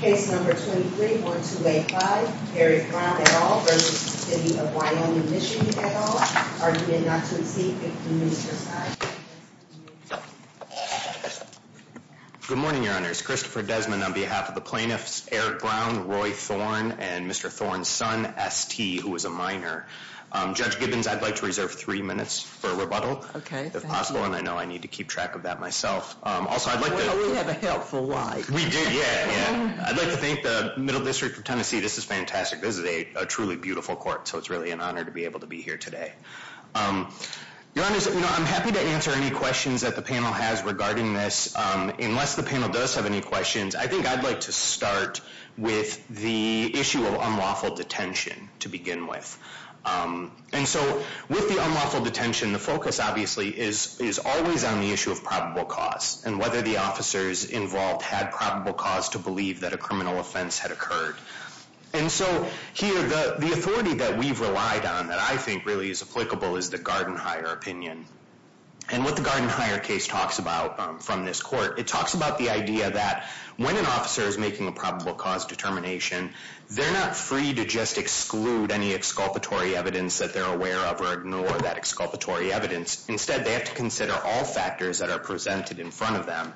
Case number 231285, Eric Brown et al. v. City of Wyoming, MI et al. Argument not to accept, if the minister decides. Good morning, your honors. Christopher Desmond on behalf of the plaintiffs, Eric Brown, Roy Thorne, and Mr. Thorne's son, S.T., who is a minor. Judge Gibbons, I'd like to reserve three minutes for rebuttal. Okay, thank you. If possible, and I know I need to keep track of that myself. Also, I'd like to- Well, we have a helpful line. We do, yeah, yeah. I'd like to thank the Middle District of Tennessee. This is fantastic. This is a truly beautiful court, so it's really an honor to be able to be here today. Your honors, I'm happy to answer any questions that the panel has regarding this. Unless the panel does have any questions, I think I'd like to start with the issue of unlawful detention to begin with. And so, with the unlawful detention, the focus, obviously, is always on the issue of probable cause, and whether the officers involved had probable cause to believe that a criminal offense had occurred. And so, here, the authority that we've relied on that I think really is applicable is the Garden-Hyre opinion. And what the Garden-Hyre case talks about from this court, it talks about the idea that when an officer is making a probable cause determination, they're not free to just exclude any exculpatory evidence that they're aware of or ignore that exculpatory evidence. Instead, they have to consider all factors that are presented in front of them.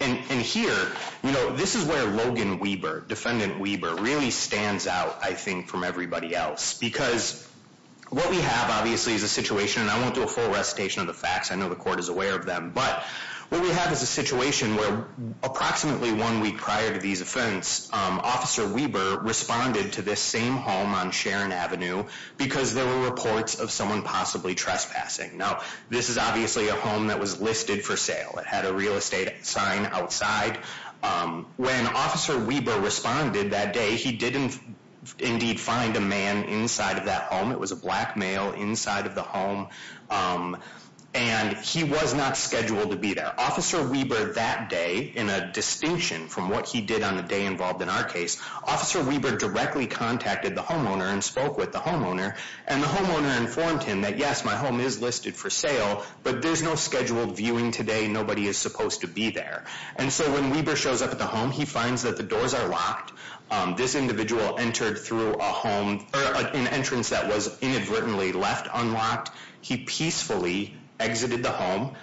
And here, this is where Logan Weber, defendant Weber, really stands out, I think, from everybody else. Because what we have, obviously, is a situation, and I won't do a full recitation of the facts. I know the court is aware of them. But what we have is a situation where approximately one week prior to these offense, Officer Weber responded to this same home on Sharon Avenue because there were reports of someone possibly trespassing. Now, this is obviously a home that was listed for sale. It had a real estate sign outside. When Officer Weber responded that day, he didn't indeed find a man inside of that home. It was a black male inside of the home. And he was not scheduled to be there. Officer Weber that day, in a distinction from what he did on the day involved in our case, Officer Weber directly contacted the homeowner and spoke with the homeowner. And the homeowner informed him that, yes, my home is listed for sale, but there's no scheduled viewing today. Nobody is supposed to be there. And so when Weber shows up at the home, he finds that the doors are locked. This individual entered through a home, an entrance that was inadvertently left unlocked. He peacefully exited the home.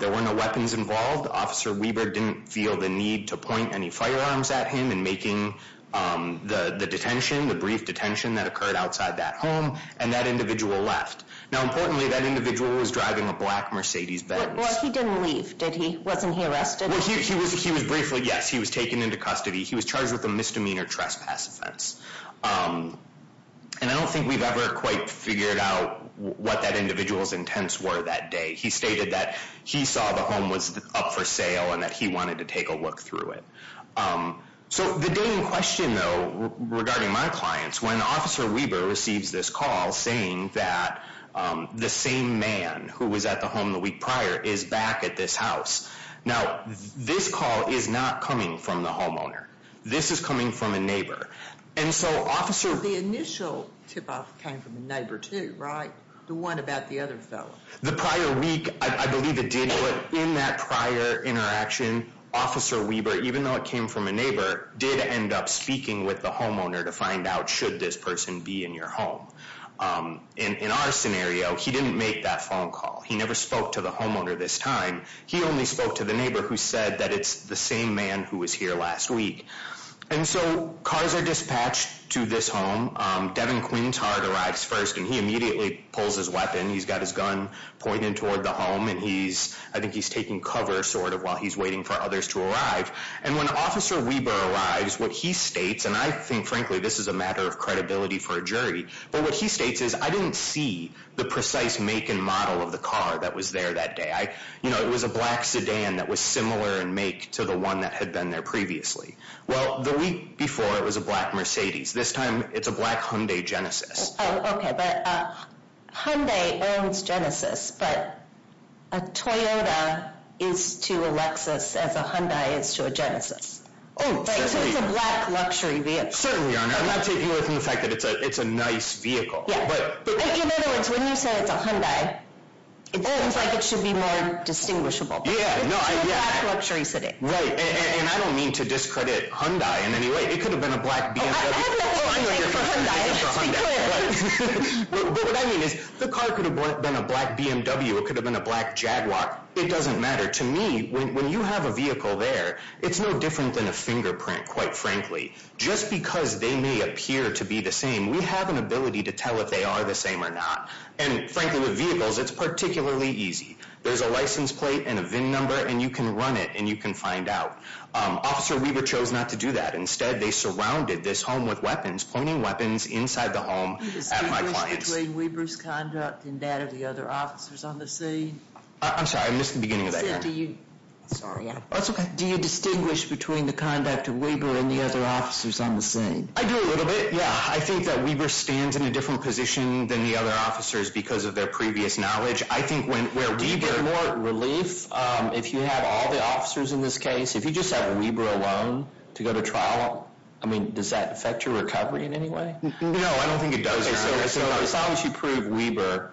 There were no weapons involved. Officer Weber didn't feel the need to point any firearms at him in making the brief detention that occurred outside that home, and that individual left. Now, importantly, that individual was driving a black Mercedes-Benz. But he didn't leave, did he? Wasn't he arrested? Well, he was briefly, yes. He was taken into custody. He was charged with a misdemeanor trespass offense. And I don't think we've ever quite figured out what that individual's intents were that day. He stated that he saw the home was up for sale and that he wanted to take a look through it. So the day in question, though, regarding my clients, when Officer Weber receives this call saying that the same man who was at the home the week prior is back at this house. Now, this call is not coming from the homeowner. This is coming from a neighbor. The initial tip-off came from a neighbor, too, right? The one about the other fellow. The prior week, I believe it did, but in that prior interaction, Officer Weber, even though it came from a neighbor, did end up speaking with the homeowner to find out should this person be in your home. In our scenario, he didn't make that phone call. He never spoke to the homeowner this time. He only spoke to the neighbor who said that it's the same man who was here last week. And so cars are dispatched to this home. Devin Quintard arrives first, and he immediately pulls his weapon. He's got his gun pointed toward the home, and I think he's taking cover while he's waiting for others to arrive. And when Officer Weber arrives, what he states, and I think, frankly, this is a matter of credibility for a jury, but what he states is, I didn't see the precise make and model of the car that was there that day. It was a black sedan that was similar in make to the one that had been there previously. Well, the week before, it was a black Mercedes. This time, it's a black Hyundai Genesis. Oh, okay, but Hyundai owns Genesis, but a Toyota is to a Lexus as a Hyundai is to a Genesis. Oh, certainly. So it's a black luxury vehicle. Certainly, Your Honor. I'm not taking away from the fact that it's a nice vehicle. In other words, when you say it's a Hyundai, it seems like it should be more distinguishable. Yeah. It's a black luxury city. Right, and I don't mean to discredit Hyundai in any way. It could have been a black BMW. Oh, I have nothing to take for Hyundai. But what I mean is, the car could have been a black BMW. It could have been a black Jaguar. It doesn't matter. To me, when you have a vehicle there, it's no different than a fingerprint, quite frankly. Just because they may appear to be the same, we have an ability to tell if they are the same or not, and frankly, with vehicles, it's particularly easy. There's a license plate and a VIN number, and you can run it, and you can find out. Officer Weaver chose not to do that. Instead, they surrounded this home with weapons, pointing weapons inside the home at my clients. Do you distinguish between Weaver's conduct and that of the other officers on the scene? I'm sorry. I missed the beginning of that question. I said to you. Sorry. That's okay. Do you distinguish between the conduct of Weaver and the other officers on the scene? I do a little bit, yeah. I think that Weaver stands in a different position than the other officers because of their previous knowledge. I think where Weaver- Do you get more relief if you have all the officers in this case? If you just have Weaver alone to go to trial, does that affect your recovery in any way? No, I don't think it does. As long as you prove Weaver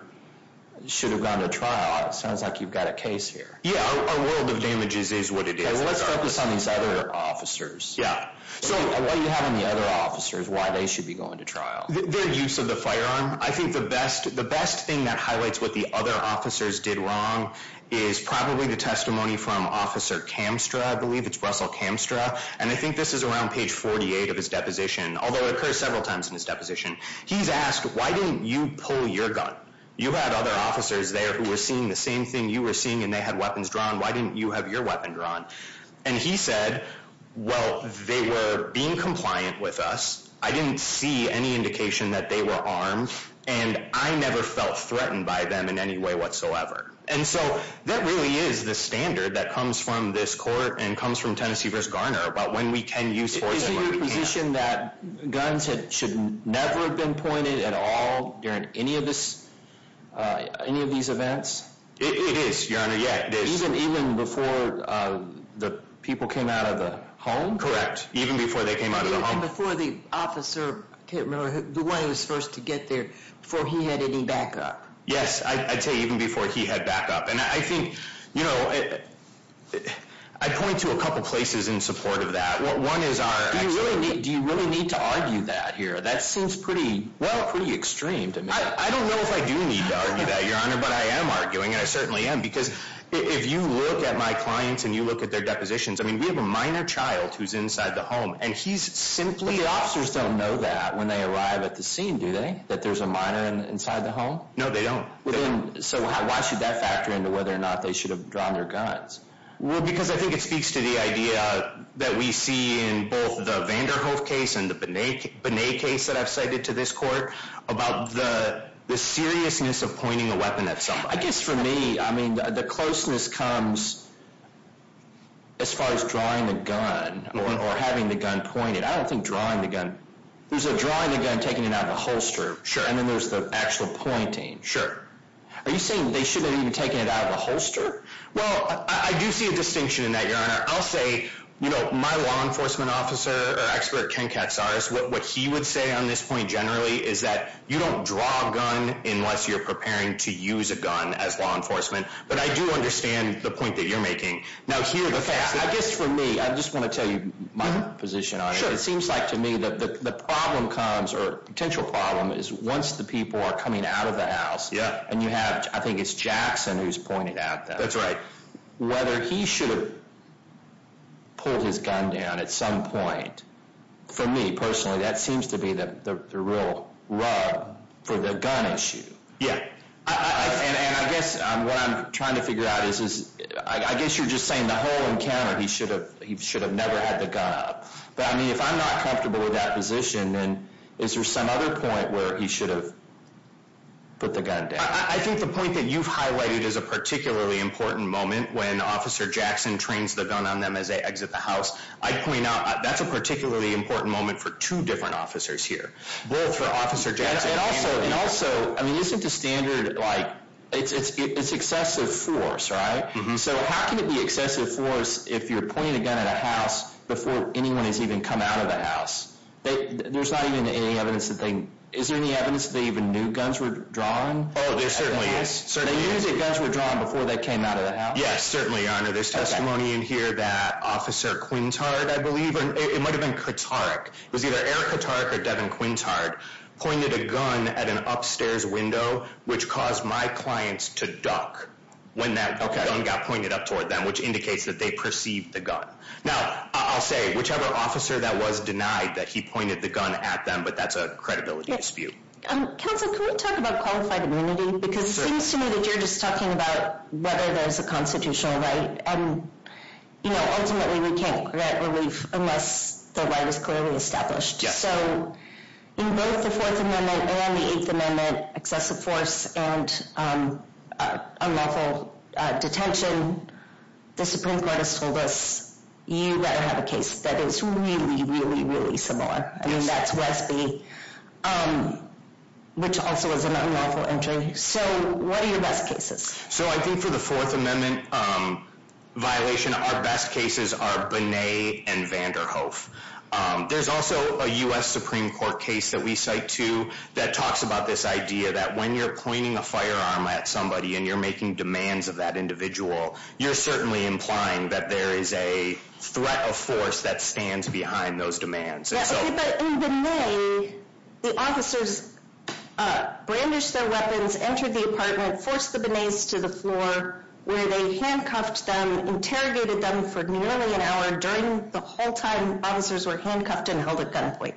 should have gone to trial, it sounds like you've got a case here. Yeah, our world of damages is what it is. Let's focus on these other officers. Yeah. What do you have in the other officers, why they should be going to trial? Their use of the firearm. I think the best thing that highlights what the other officers did wrong is probably the testimony from Officer Kamstra, I believe. It's Russell Kamstra. And I think this is around page 48 of his deposition, although it occurs several times in his deposition. He's asked, why didn't you pull your gun? You had other officers there who were seeing the same thing you were seeing and they had weapons drawn. Why didn't you have your weapon drawn? And he said, well, they were being compliant with us. I didn't see any indication that they were armed and I never felt threatened by them in any way whatsoever. And so that really is the standard that comes from this court and comes from Tennessee v. Garner about when we can use force and when we can't. Isn't it your position that guns should never have been pointed at all during any of these events? It is, Your Honor, yeah. Even before the people came out of the home? Correct. Even before they came out of the home. Even before the officer, I can't remember, the one who was first to get there, before he had any backup. Yes, I'd say even before he had backup. I'd point to a couple places in support of that. Do you really need to argue that here? That seems pretty extreme to me. I don't know if I do need to argue that, Your Honor, but I am arguing and I certainly am because if you look at my clients and you look at their depositions, I mean, we have a minor child who's inside the home and he's simply... But the officers don't know that when they arrive at the scene, do they? That there's a minor inside the home? No, they don't. So why should that factor into whether or not they should have drawn their guns? Well, because I think it speaks to the idea that we see in both the Vanderhoof case and the Binet case that I've cited to this court about the seriousness of pointing a weapon at somebody. I guess for me, I mean, the closeness comes as far as drawing the gun or having the gun pointed. I don't think drawing the gun... There's a drawing the gun, taking it out of the holster, and then there's the actual pointing. Sure. Are you saying they shouldn't have even taken it out of the holster? Well, I do see a distinction in that, Your Honor. I'll say, you know, my law enforcement officer, or expert, Ken Katsaris, what he would say on this point generally is that you don't draw a gun unless you're preparing to use a gun as law enforcement. But I do understand the point that you're making. Now here, the fact that... Okay, I guess for me, I just want to tell you my position on it. It seems like to me that the problem comes, or potential problem, is once the people are coming out of the house, and you have, I think it's Jackson who's pointing at them. That's right. Whether he should have pulled his gun down at some point, for me, personally, that seems to be the real rub for the gun issue. Yeah. And I guess what I'm trying to figure out is, I guess you're just saying the whole encounter, he should have never had the gun up. But I mean, if I'm not comfortable with that position, then is there some other point where he should have put the gun down? I think the point that you've highlighted is a particularly important moment when Officer Jackson trains the gun on them as they exit the house. I'd point out, that's a particularly important moment for two different officers here. Both for Officer Jackson... And also, I mean, isn't the standard, like, it's excessive force, right? Mm-hmm. So how can it be excessive force if you're pointing a gun at a house before anyone has even come out of the house? There's not even any evidence that they... Is there any evidence that they even knew guns were drawn? Oh, there certainly is. They knew that guns were drawn before they came out of the house? Yes, certainly, Your Honor. There's testimony in here that Officer Quintard, I believe, or it might have been Kotarek, it was either Eric Kotarek or Devin Quintard, pointed a gun at an upstairs window, which caused my clients to duck when that gun got pointed up toward them, which indicates that they perceived the gun. Now, I'll say, whichever officer that was denied that he pointed the gun at them, but that's a credibility dispute. Counsel, can we talk about qualified immunity? Because it seems to me that you're just talking about whether there's a constitutional right. And, you know, ultimately, we can't get relief unless the right is clearly established. So in both the Fourth Amendment and the Eighth Amendment, excessive force and unlawful detention, the Supreme Court has told us, you better have a case that is really, really, really similar. Yes. I mean, that's Westby, which also is an unlawful entry. So what are your best cases? So I think for the Fourth Amendment violation, our best cases are Bonnet and Vanderhoof. There's also a U.S. Supreme Court case that we cite too that talks about this idea that when you're pointing a firearm at somebody and you're making demands of that individual, you're certainly implying that there is a threat of force that stands behind those demands. Yes, but in Bonnet, the officers brandished their weapons, entered the apartment, forced the Bonnets to the floor where they handcuffed them, interrogated them for nearly an hour during the whole time officers were handcuffed and held at gunpoint.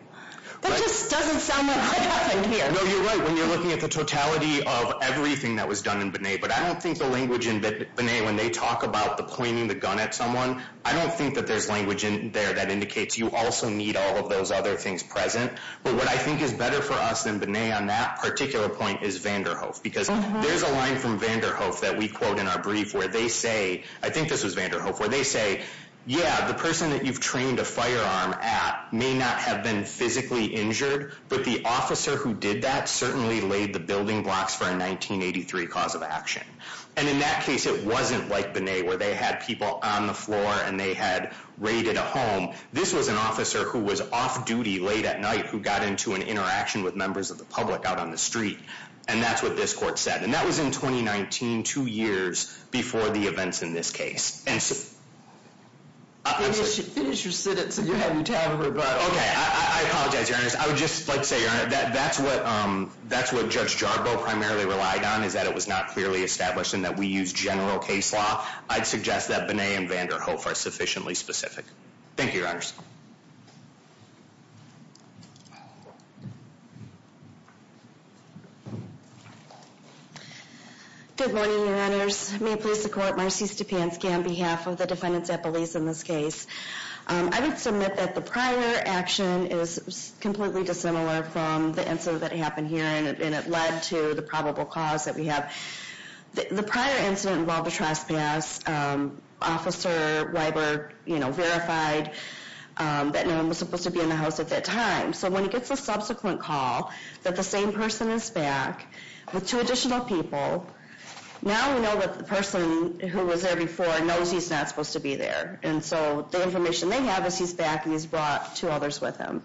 That just doesn't sound like what happened here. No, you're right when you're looking at the totality of everything that was done in Bonnet. But I don't think the language in Bonnet when they talk about the pointing the gun at someone, I don't think that there's language in there that indicates you also need all of those other things present. But what I think is better for us than Bonnet on that particular point is Vanderhoof because there's a line from Vanderhoof that we quote in our brief where they say, I think this was Vanderhoof, where they say, yeah, the person that you've trained a firearm at may not have been physically injured, but the officer who did that certainly laid the building blocks for a 1983 cause of action. And in that case, it wasn't like Bonnet where they had people on the floor and they had raided a home. This was an officer who was off duty late at night who got into an interaction with members of the public out on the street. And that's what this court said. And that was in 2019, two years before the events in this case. Finish your sentence and you have your time to rebut. Okay, I apologize, Your Honor. I would just like to say, Your Honor, that's what Judge Jarboe primarily relied on is that it was not clearly established and that we use general case law. I'd suggest that Bonnet and Vanderhoof are sufficiently specific. Thank you, Your Honors. Good morning, Your Honors. May it please the court, Marcy Stepanski on behalf of the defendants at police in this case. I would submit that the prior action is completely dissimilar from the answer that happened here and it led to the probable cause that we have. The prior incident involved a trespass. Officer Weiber verified that no one was supposed to be in the house at that time. So when he gets a subsequent call that the same person is back with two additional people, now we know that the person who was there before knows he's not supposed to be there. And so the information they have is he's back and he's brought two others with him.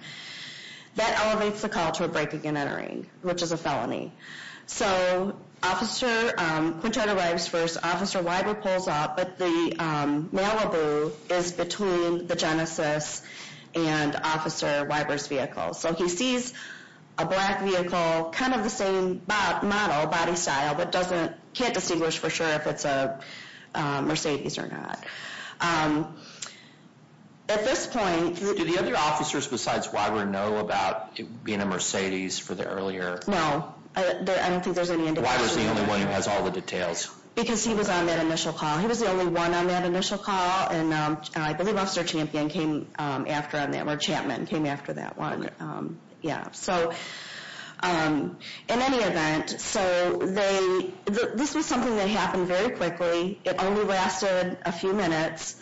That elevates the call to a break again entering, which is a felony. So, Officer Quintero arrives first. Officer Weiber pulls up, but the mail-a-boo is between the Genesis and Officer Weiber's vehicle. So he sees a black vehicle, kind of the same model, body style, but can't distinguish for sure if it's a Mercedes or not. At this point... Do the other officers besides Weiber know about it being a Mercedes for the earlier... No, I don't think there's any indication... Why was he the only one who has all the details? Because he was on that initial call. He was the only one on that initial call. And I believe Officer Champion came after on that, or Chapman came after that one. So, in any event, so this was something that happened very quickly. It only lasted a few minutes.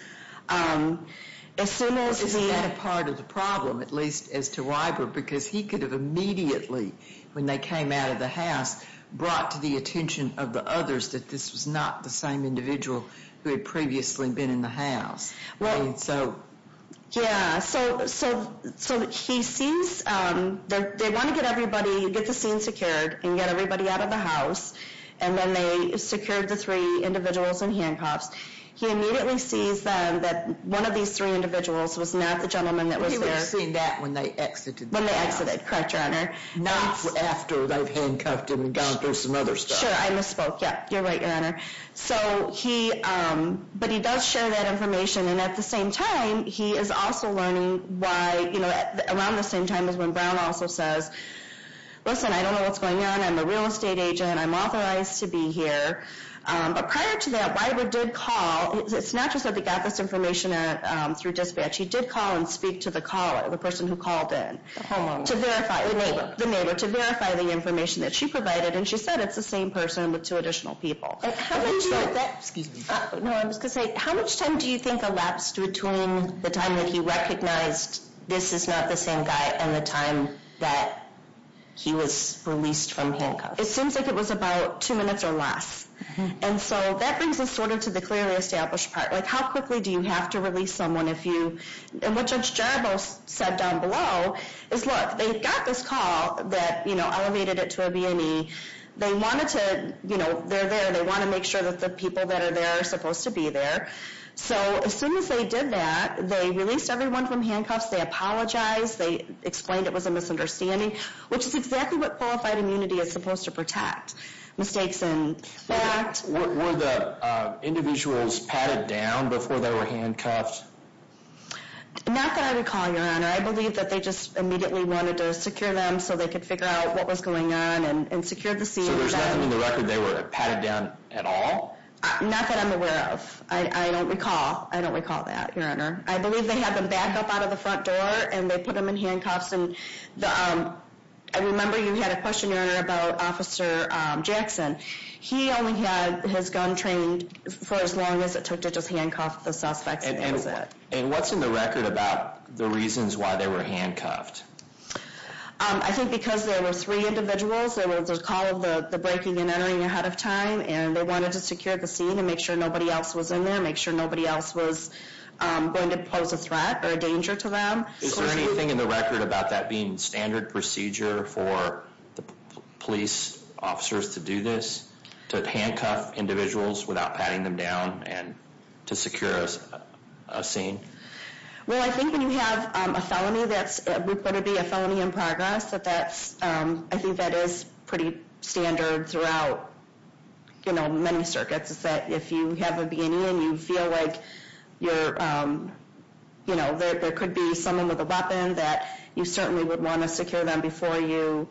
As soon as he... Is that a part of the problem, at least as to Weiber? Because he could have immediately, when they came out of the house, brought to the attention of the others that this was not the same individual who had previously been in the house. And so... Yeah, so he sees... They want to get everybody, get the scene secured and get everybody out of the house. And then they secured the three individuals in handcuffs. He immediately sees that one of these three individuals was not the gentleman that was there. He would have seen that when they exited the house. When they exited, correct, Your Honor. Not after they've handcuffed him and gone through some other stuff. Sure, I misspoke, yeah. You're right, Your Honor. So he... But he does share that information. And at the same time, he is also learning why, you know, around the same time as when Brown also says, listen, I don't know what's going on. I'm a real estate agent. I'm authorized to be here. But prior to that, Weiber did call. It's not just that they got this information through dispatch. He did call and speak to the caller, the person who called in. The homeowner. The neighbor. The neighbor, to verify the information that she provided. And she said it's the same person with two additional people. Excuse me. No, I was going to say, how much time do you think elapsed between the time that he recognized this is not the same guy and the time that he was released from handcuffs? It seems like it was about two minutes or less. And so that brings us sort of to the clearly established part. Like how quickly do you have to release someone if you... And what Judge Jarboe said down below is, look, they got this call that elevated it to a B&E. They wanted to... They're there. They want to make sure that the people that are there are supposed to be there. So as soon as they did that, they released everyone from handcuffs. They apologized. They explained it was a misunderstanding, which is exactly what qualified immunity is supposed to protect. Mistakes in fact. Were the individuals patted down before they were handcuffed? Not that I recall, Your Honor. I believe that they just immediately wanted to secure them so they could figure out what was going on and secure the scene. So there's nothing in the record they were patted down at all? Not that I'm aware of. I don't recall. I don't recall that, Your Honor. I believe they had them back up out of the front door and they put them in handcuffs. And I remember you had a questionnaire about Officer Jackson. He only had his gun trained for as long as it took to just handcuff the suspects. And what's in the record about the reasons why they were handcuffed? I think because there were three individuals. There was a call of the breaking and entering ahead of time. And they wanted to secure the scene and make sure nobody else was in there, make sure nobody else was going to pose a threat or a danger to them. Is there anything in the record about that being standard procedure for police officers to do this? To handcuff individuals without patting them down and to secure a scene? Well, I think when you have a felony, we put it to be a felony in progress. I think that is pretty standard throughout many circuits is that if you have a B&E and you feel like there could be someone with a weapon, that you certainly would want to secure them before you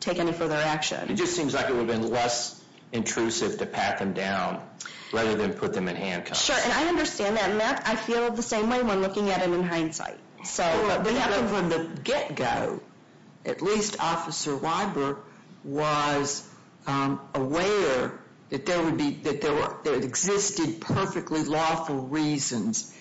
take any further action. It just seems like it would have been less intrusive to pat them down rather than put them in handcuffs. Sure, and I understand that. Matt, I feel the same way when looking at it in hindsight. But what happened from the get-go, at least Officer Weiber was aware that there existed perfectly lawful reasons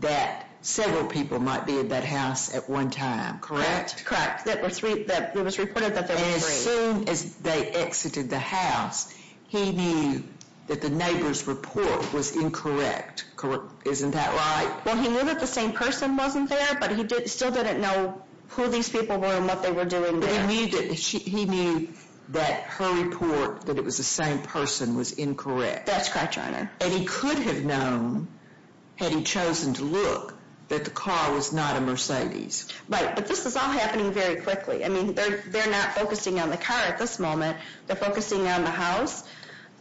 that several people might be at that house at one time, correct? Correct. It was reported that there were three. As soon as they exited the house, he knew that the neighbor's report was incorrect, correct? Isn't that right? Well, he knew that the same person wasn't there, but he still didn't know who these people were and what they were doing there. But he knew that her report, that it was the same person, was incorrect. That's correct, Your Honor. And he could have known, had he chosen to look, that the car was not a Mercedes. Right, but this is all happening very quickly. I mean, they're not focusing on the car at this moment. They're focusing on the house,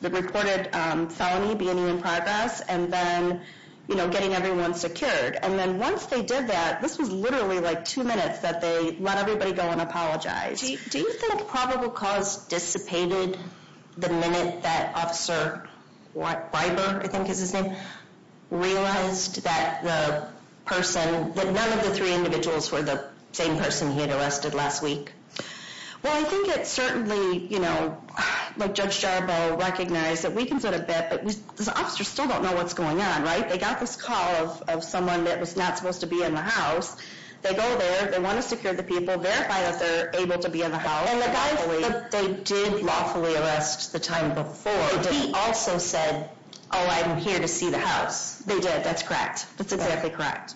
the reported felony being in progress, and then, you know, getting everyone secured. And then once they did that, this was literally like two minutes that they let everybody go and apologize. Do you think probable cause dissipated the minute that Officer Weiber, I think is his name, realized that the person, that none of the three individuals were the same person he had arrested last week? Well, I think it certainly, you know, Judge Jarboe recognized that we can sort of bet that this officer still don't know what's going on, right? They got this call of someone that was not supposed to be in the house. They go there, they want to secure the people, verify that they're able to be in the house. And the guy that they did lawfully arrest the time before, he also said, oh, I'm here to see the house. They did, that's correct. That's exactly correct.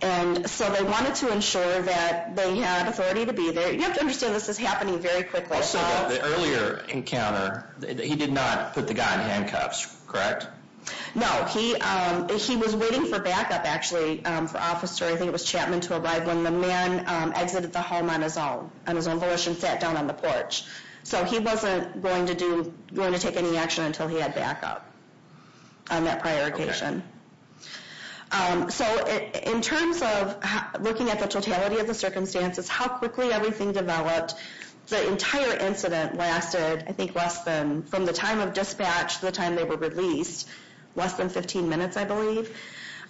And so they wanted to ensure that they had authority to be there. You have to understand this is happening very quickly. Also, the earlier encounter, he did not put the guy in handcuffs, correct? No, he was waiting for backup actually, for officer, I think it was Chapman, to arrive when the man exited the home on his own, on his own volition, sat down on the porch. So he wasn't going to do, going to take any action until he had backup on that prior occasion. So in terms of looking at the totality of the circumstances, how quickly everything developed, the entire incident lasted, I think, less than, from the time of dispatch to the time they were released, less than 15 minutes, I believe.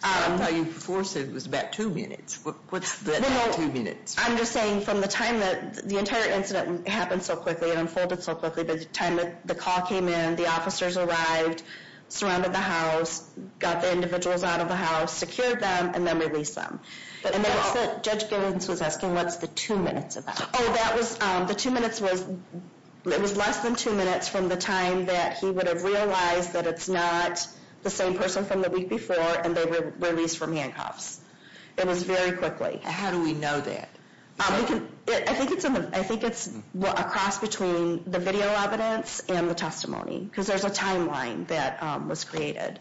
I thought you said it was about two minutes. What's the two minutes? I'm just saying from the time that, the entire incident happened so quickly and unfolded so quickly, the time that the call came in, the officers arrived, surrounded the house, got the individuals out of the house, secured them, and then released them. And that's what, Judge Giddens was asking, what's the two minutes about? Oh, that was, the two minutes was, it was less than two minutes from the time that he would have realized that it's not the same person from the week before and they were released from handcuffs. It was very quickly. How do we know that? I think it's, I think it's a cross between the video evidence and the testimony because there's a timeline that was created.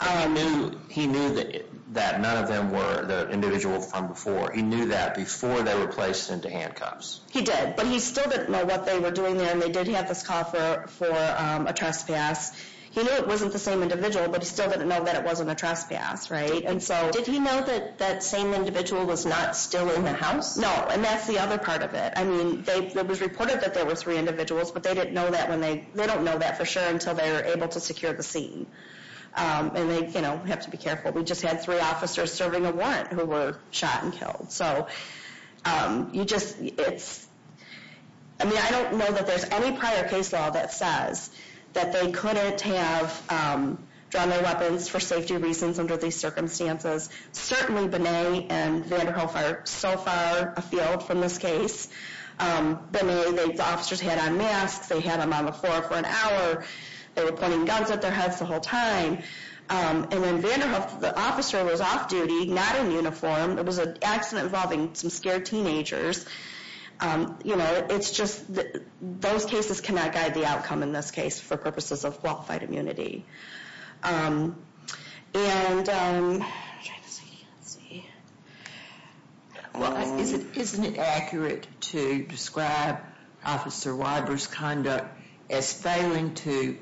I knew, he knew that, that none of them were the individual from before. He knew that before they were placed into handcuffs. He did, but he still didn't know what they were doing there and they did have this call for a trespass. He knew it wasn't the same individual, but he still didn't know that it wasn't a trespass, right? And so, did he know that that same individual was not still in the house? No, and that's the other part of it. I mean, it was reported that there were three individuals, but they didn't know that when they, they don't know that for sure until they were able to secure the scene and they, have to be careful. We just had three officers serving a warrant who were shot and killed. you just, it's, I mean, I don't know that there's any prior case law that says that they couldn't have drawn their weapons for safety reasons under these circumstances. Binet and Vanderhoef are so far afield from this case. Binet, the officers had on masks, they had them on the floor for an hour and they were they were pointing guns at their heads the whole time. And then Vanderhoef, the officer was off duty, not in uniform. It was an accident involving some scared teenagers. You know, it's just, those cases cannot guide the outcome in this case for purposes of qualified immunity. And, I'm trying to see, I can't see. Well, isn't it accurate to describe Officer Weiber's conduct as failing to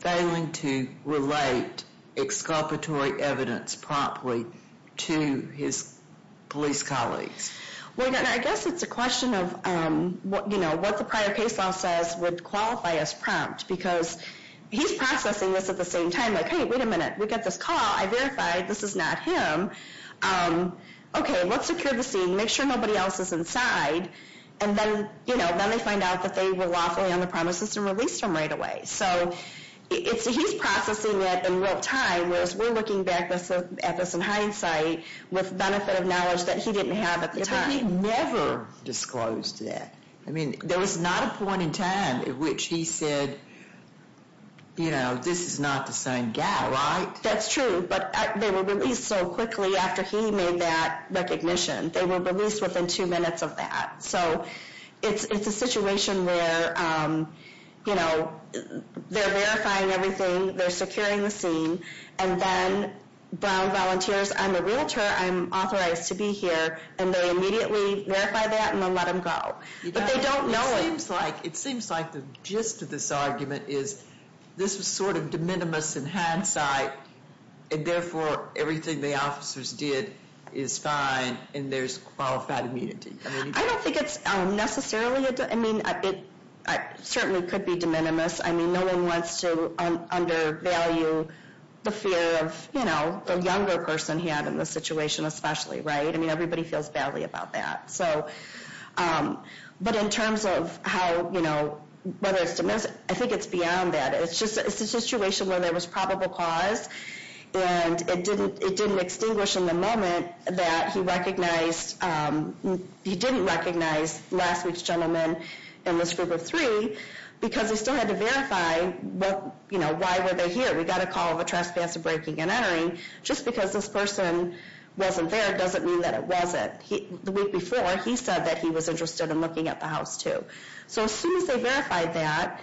failing to relate exculpatory evidence promptly to his police colleagues? Well, I guess it's a question of what, you know, what the prior case law says would qualify as prompt because he's processing this at the same time, like, hey, wait a minute, we got this call, I verified, this is not him. Okay, let's secure the scene, make sure nobody else is inside and then, you know, then they find out that they were lawfully on the premises and released him right away. So, he's processing it in real time whereas we're looking back at this in hindsight with benefit of knowledge that he didn't have at the time. But he never disclosed that. I mean, there was not a point in time at which he said, you know, this is not the same guy, right? That's true, but they were released so quickly after he made that recognition. They were released within two minutes of that. So, it's a situation where, you know, they're verifying everything, they're securing the scene and then, Brown volunteers, I'm a realtor, I'm authorized to be here and they immediately verify that and then let him go. But they don't know it. It seems like, it seems like the gist of this argument is, this was sort of de minimis in hindsight and therefore, everything the officers did is fine and there's qualified immunity. I don't think it's necessarily, I mean, it certainly could be de minimis. I mean, no one wants to undervalue the fear of, you know, the younger person he had in this situation especially, right? I mean, everybody feels badly about that. but in terms of how, you know, whether it's de minimis, I think it's beyond that. It's just, it's a situation where there was probable cause and it didn't, it didn't extinguish in the moment that he recognized, he didn't recognize last week's gentleman in this group of three because he still had to verify what, you know, why were they here? We got a call of a trespasser breaking and entering. Just because this person wasn't there doesn't mean that it wasn't. The week before, he said that he was interested in looking at the house too. So as soon as they verified that,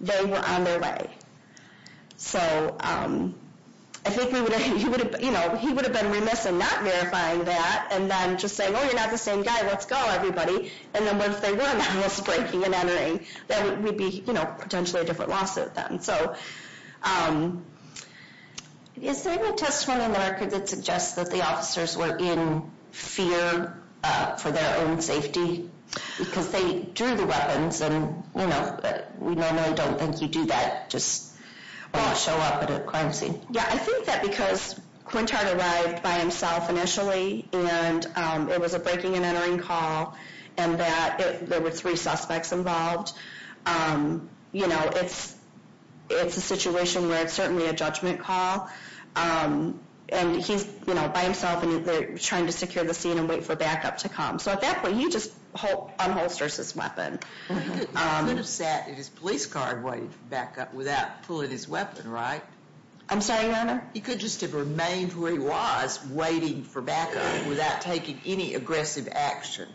they were on their way. So, I think he would have, you know, he would have been remiss in not verifying that and then just saying, oh, you're not the same guy, let's go everybody. And then once they were on the house breaking and entering, then we'd be, you know, potentially a different lawsuit then. is there any testimony in the record that suggests that the officers were in fear for their own safety? Because they drew the weapons and, you know, we normally don't think you do that just show up at a crime scene. Yeah, I think that because Quintard arrived by himself initially and it was a breaking and entering call and that there were three suspects involved. You know, it's, it's a situation where it's certainly a judgment call and he's, you know, by himself and they're trying to secure the scene and wait for backup to come. So at that point, you just unholster his weapon. He could have sat in his police car waiting for backup without pulling his weapon, right? I'm sorry, your honor? He could just have remained where he was waiting for backup without taking any aggressive action.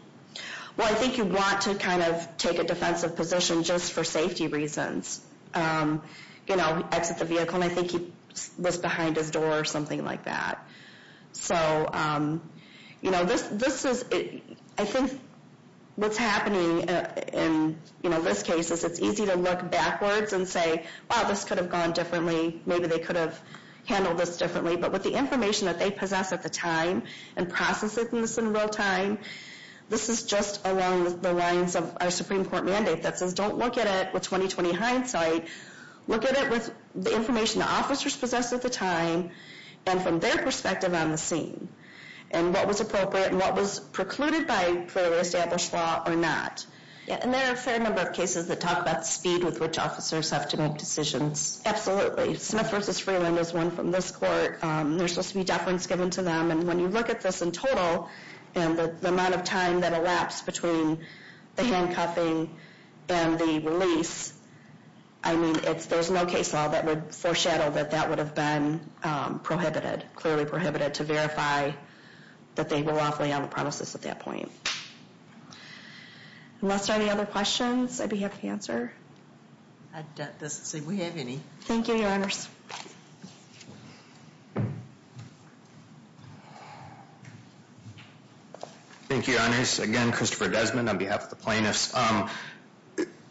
Well, I think you want to kind of take a defensive position just for safety reasons. You know, exit the vehicle and I think he was behind his door or something like that. So, you know, this, this is, I think what's happening in, you know, this case is it's easy to look backwards and say, well, this could have gone differently. Maybe they could have handled this differently. But with the information that they possess at the time and processing this in real time, this is just along the lines of our Supreme Court mandate that says, don't look at it with 20-20 hindsight. Look at it with the information the officers possessed at the time and from their perspective on the scene and what was appropriate and what was precluded by established law or not. And there are a fair number of cases that talk about speed with which officers have to make decisions. Smith v. Freeland is one from this court. There's supposed to be deference given to them. And when you look at this in total and the amount of time that elapsed between the handcuffing and the release, I mean, there's no case law that would foreshadow that that was clearly prohibited to verify that they were lawfully on the premises at that point. Unless there are any other questions, I'd be happy to Thank you, Your Honors. Thank you, Your Honors. Again, Christopher Desmond on behalf of the plaintiffs.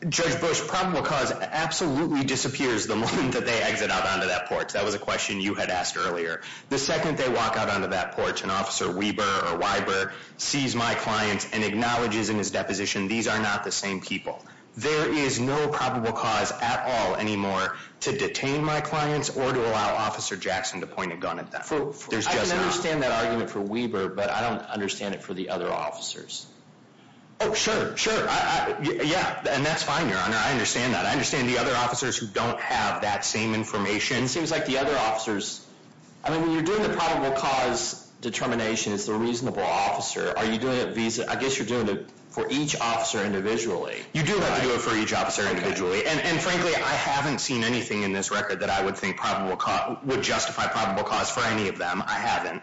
Judge Bush, probable cause absolutely disappears the moment that they exit out onto that porch. That was a question you had asked earlier. The second they walk out onto that porch and Officer Weber or Weiber sees my client and acknowledges in his deposition these are not the same people. There is no probable cause at all anymore to detain my clients or to allow Officer Jackson to point a gun at them. I can understand that argument for Weber, but I don't understand it for the other officers. Oh, sure, sure. Yeah, and that's fine, I understand that. I understand the other officers who don't have that same information. It seems like the other officers, I mean, when you're doing the probable cause determination, it's the reasonable officer. Are you doing it for each officer individually? You do have to do it for each officer individually, and frankly, I haven't seen anything in this record that I would think would justify probable cause for any of them. I haven't.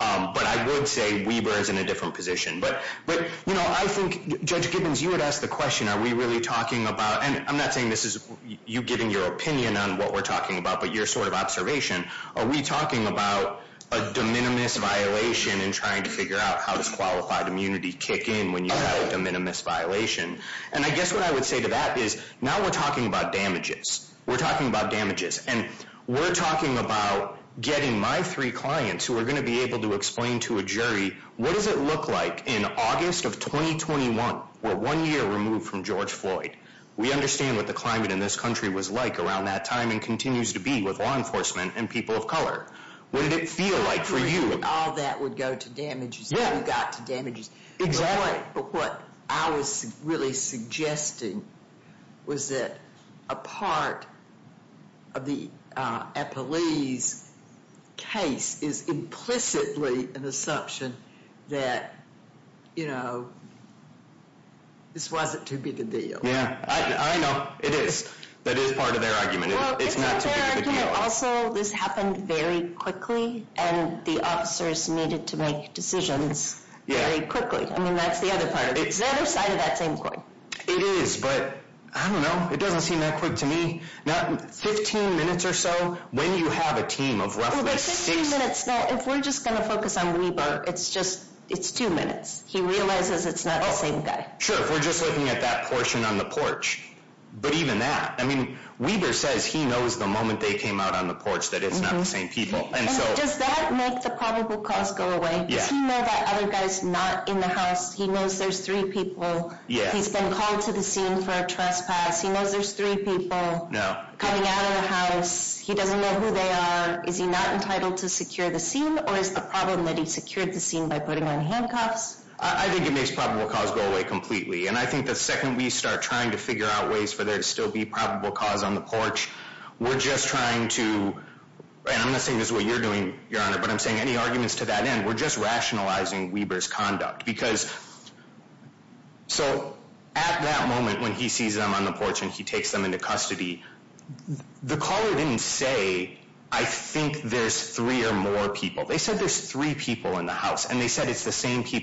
But I would say Weber is in a different position. But, you know, I think, Judge Gibbons, you would ask the question, are we really talking about, and I'm not saying this is you giving your opinion on what we're talking about, but your sort of observation, are we talking about a de minimis violation and trying to figure out how does qualified immunity kick in when you have a de minimis violation. And I guess what I would say to that is now we're talking about damages. We're talking about damages. And we're talking about getting my three clients who are going to be able to explain to a jury what does it look like in August of 2021 where one year removed from George Floyd. We understand what the climate in the United people of color. Would it feel like for you? all that would go to damages. Yeah. We got to Exactly. But what I was really suggesting was that a part of the police case is implicitly an assumption that, you know, this wasn't to be the deal. Yeah, I know it is. That is part of their argument. Also, this happened very quickly and the officers needed to make decisions very quickly. I mean, that's the other side of that same coin. It is, but I don't know. It doesn't seem that quick to me. 15 minutes or so when you have a team of roughly six If we're just going to focus on Weber, it's two minutes. He realizes it's not the same guy. Sure, if we're just looking at that portion on the but even that. I mean, Weber says he knows the moment they came out on the porch that it's not the same people. Does that make the probable cause go away? Does he know that other guy's not in the house? He knows there's three people. He's been called to the scene for a trespass. He knows there's three people coming out of the He doesn't know who they are. Is he not entitled to secure the scene or is the problem that he secured the scene by himself? I'm not saying this is what you're doing, but I'm saying any arguments to that end. We're just rationalizing Weber's conduct because so at that moment when he sees them on the porch and he takes them into custody, the caller didn't say I think there's three or more people. They said there's three people in the house and they said it's afternoon. This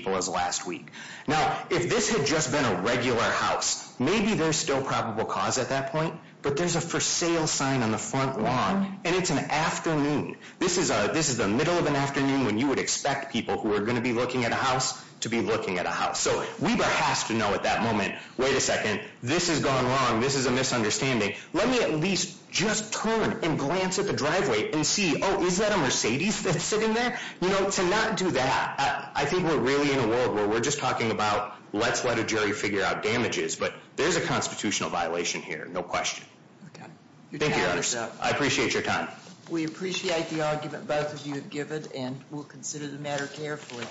is the middle of an afternoon when you would expect people who are going to be looking at a house to be looking at a house. So Weber has to know at that moment, wait a second, this is a misunderstanding. Let me at least turn and glance at the driveway and see, okay. I appreciate your time. We appreciate the argument both of you have given and we'll consider the matter carefully.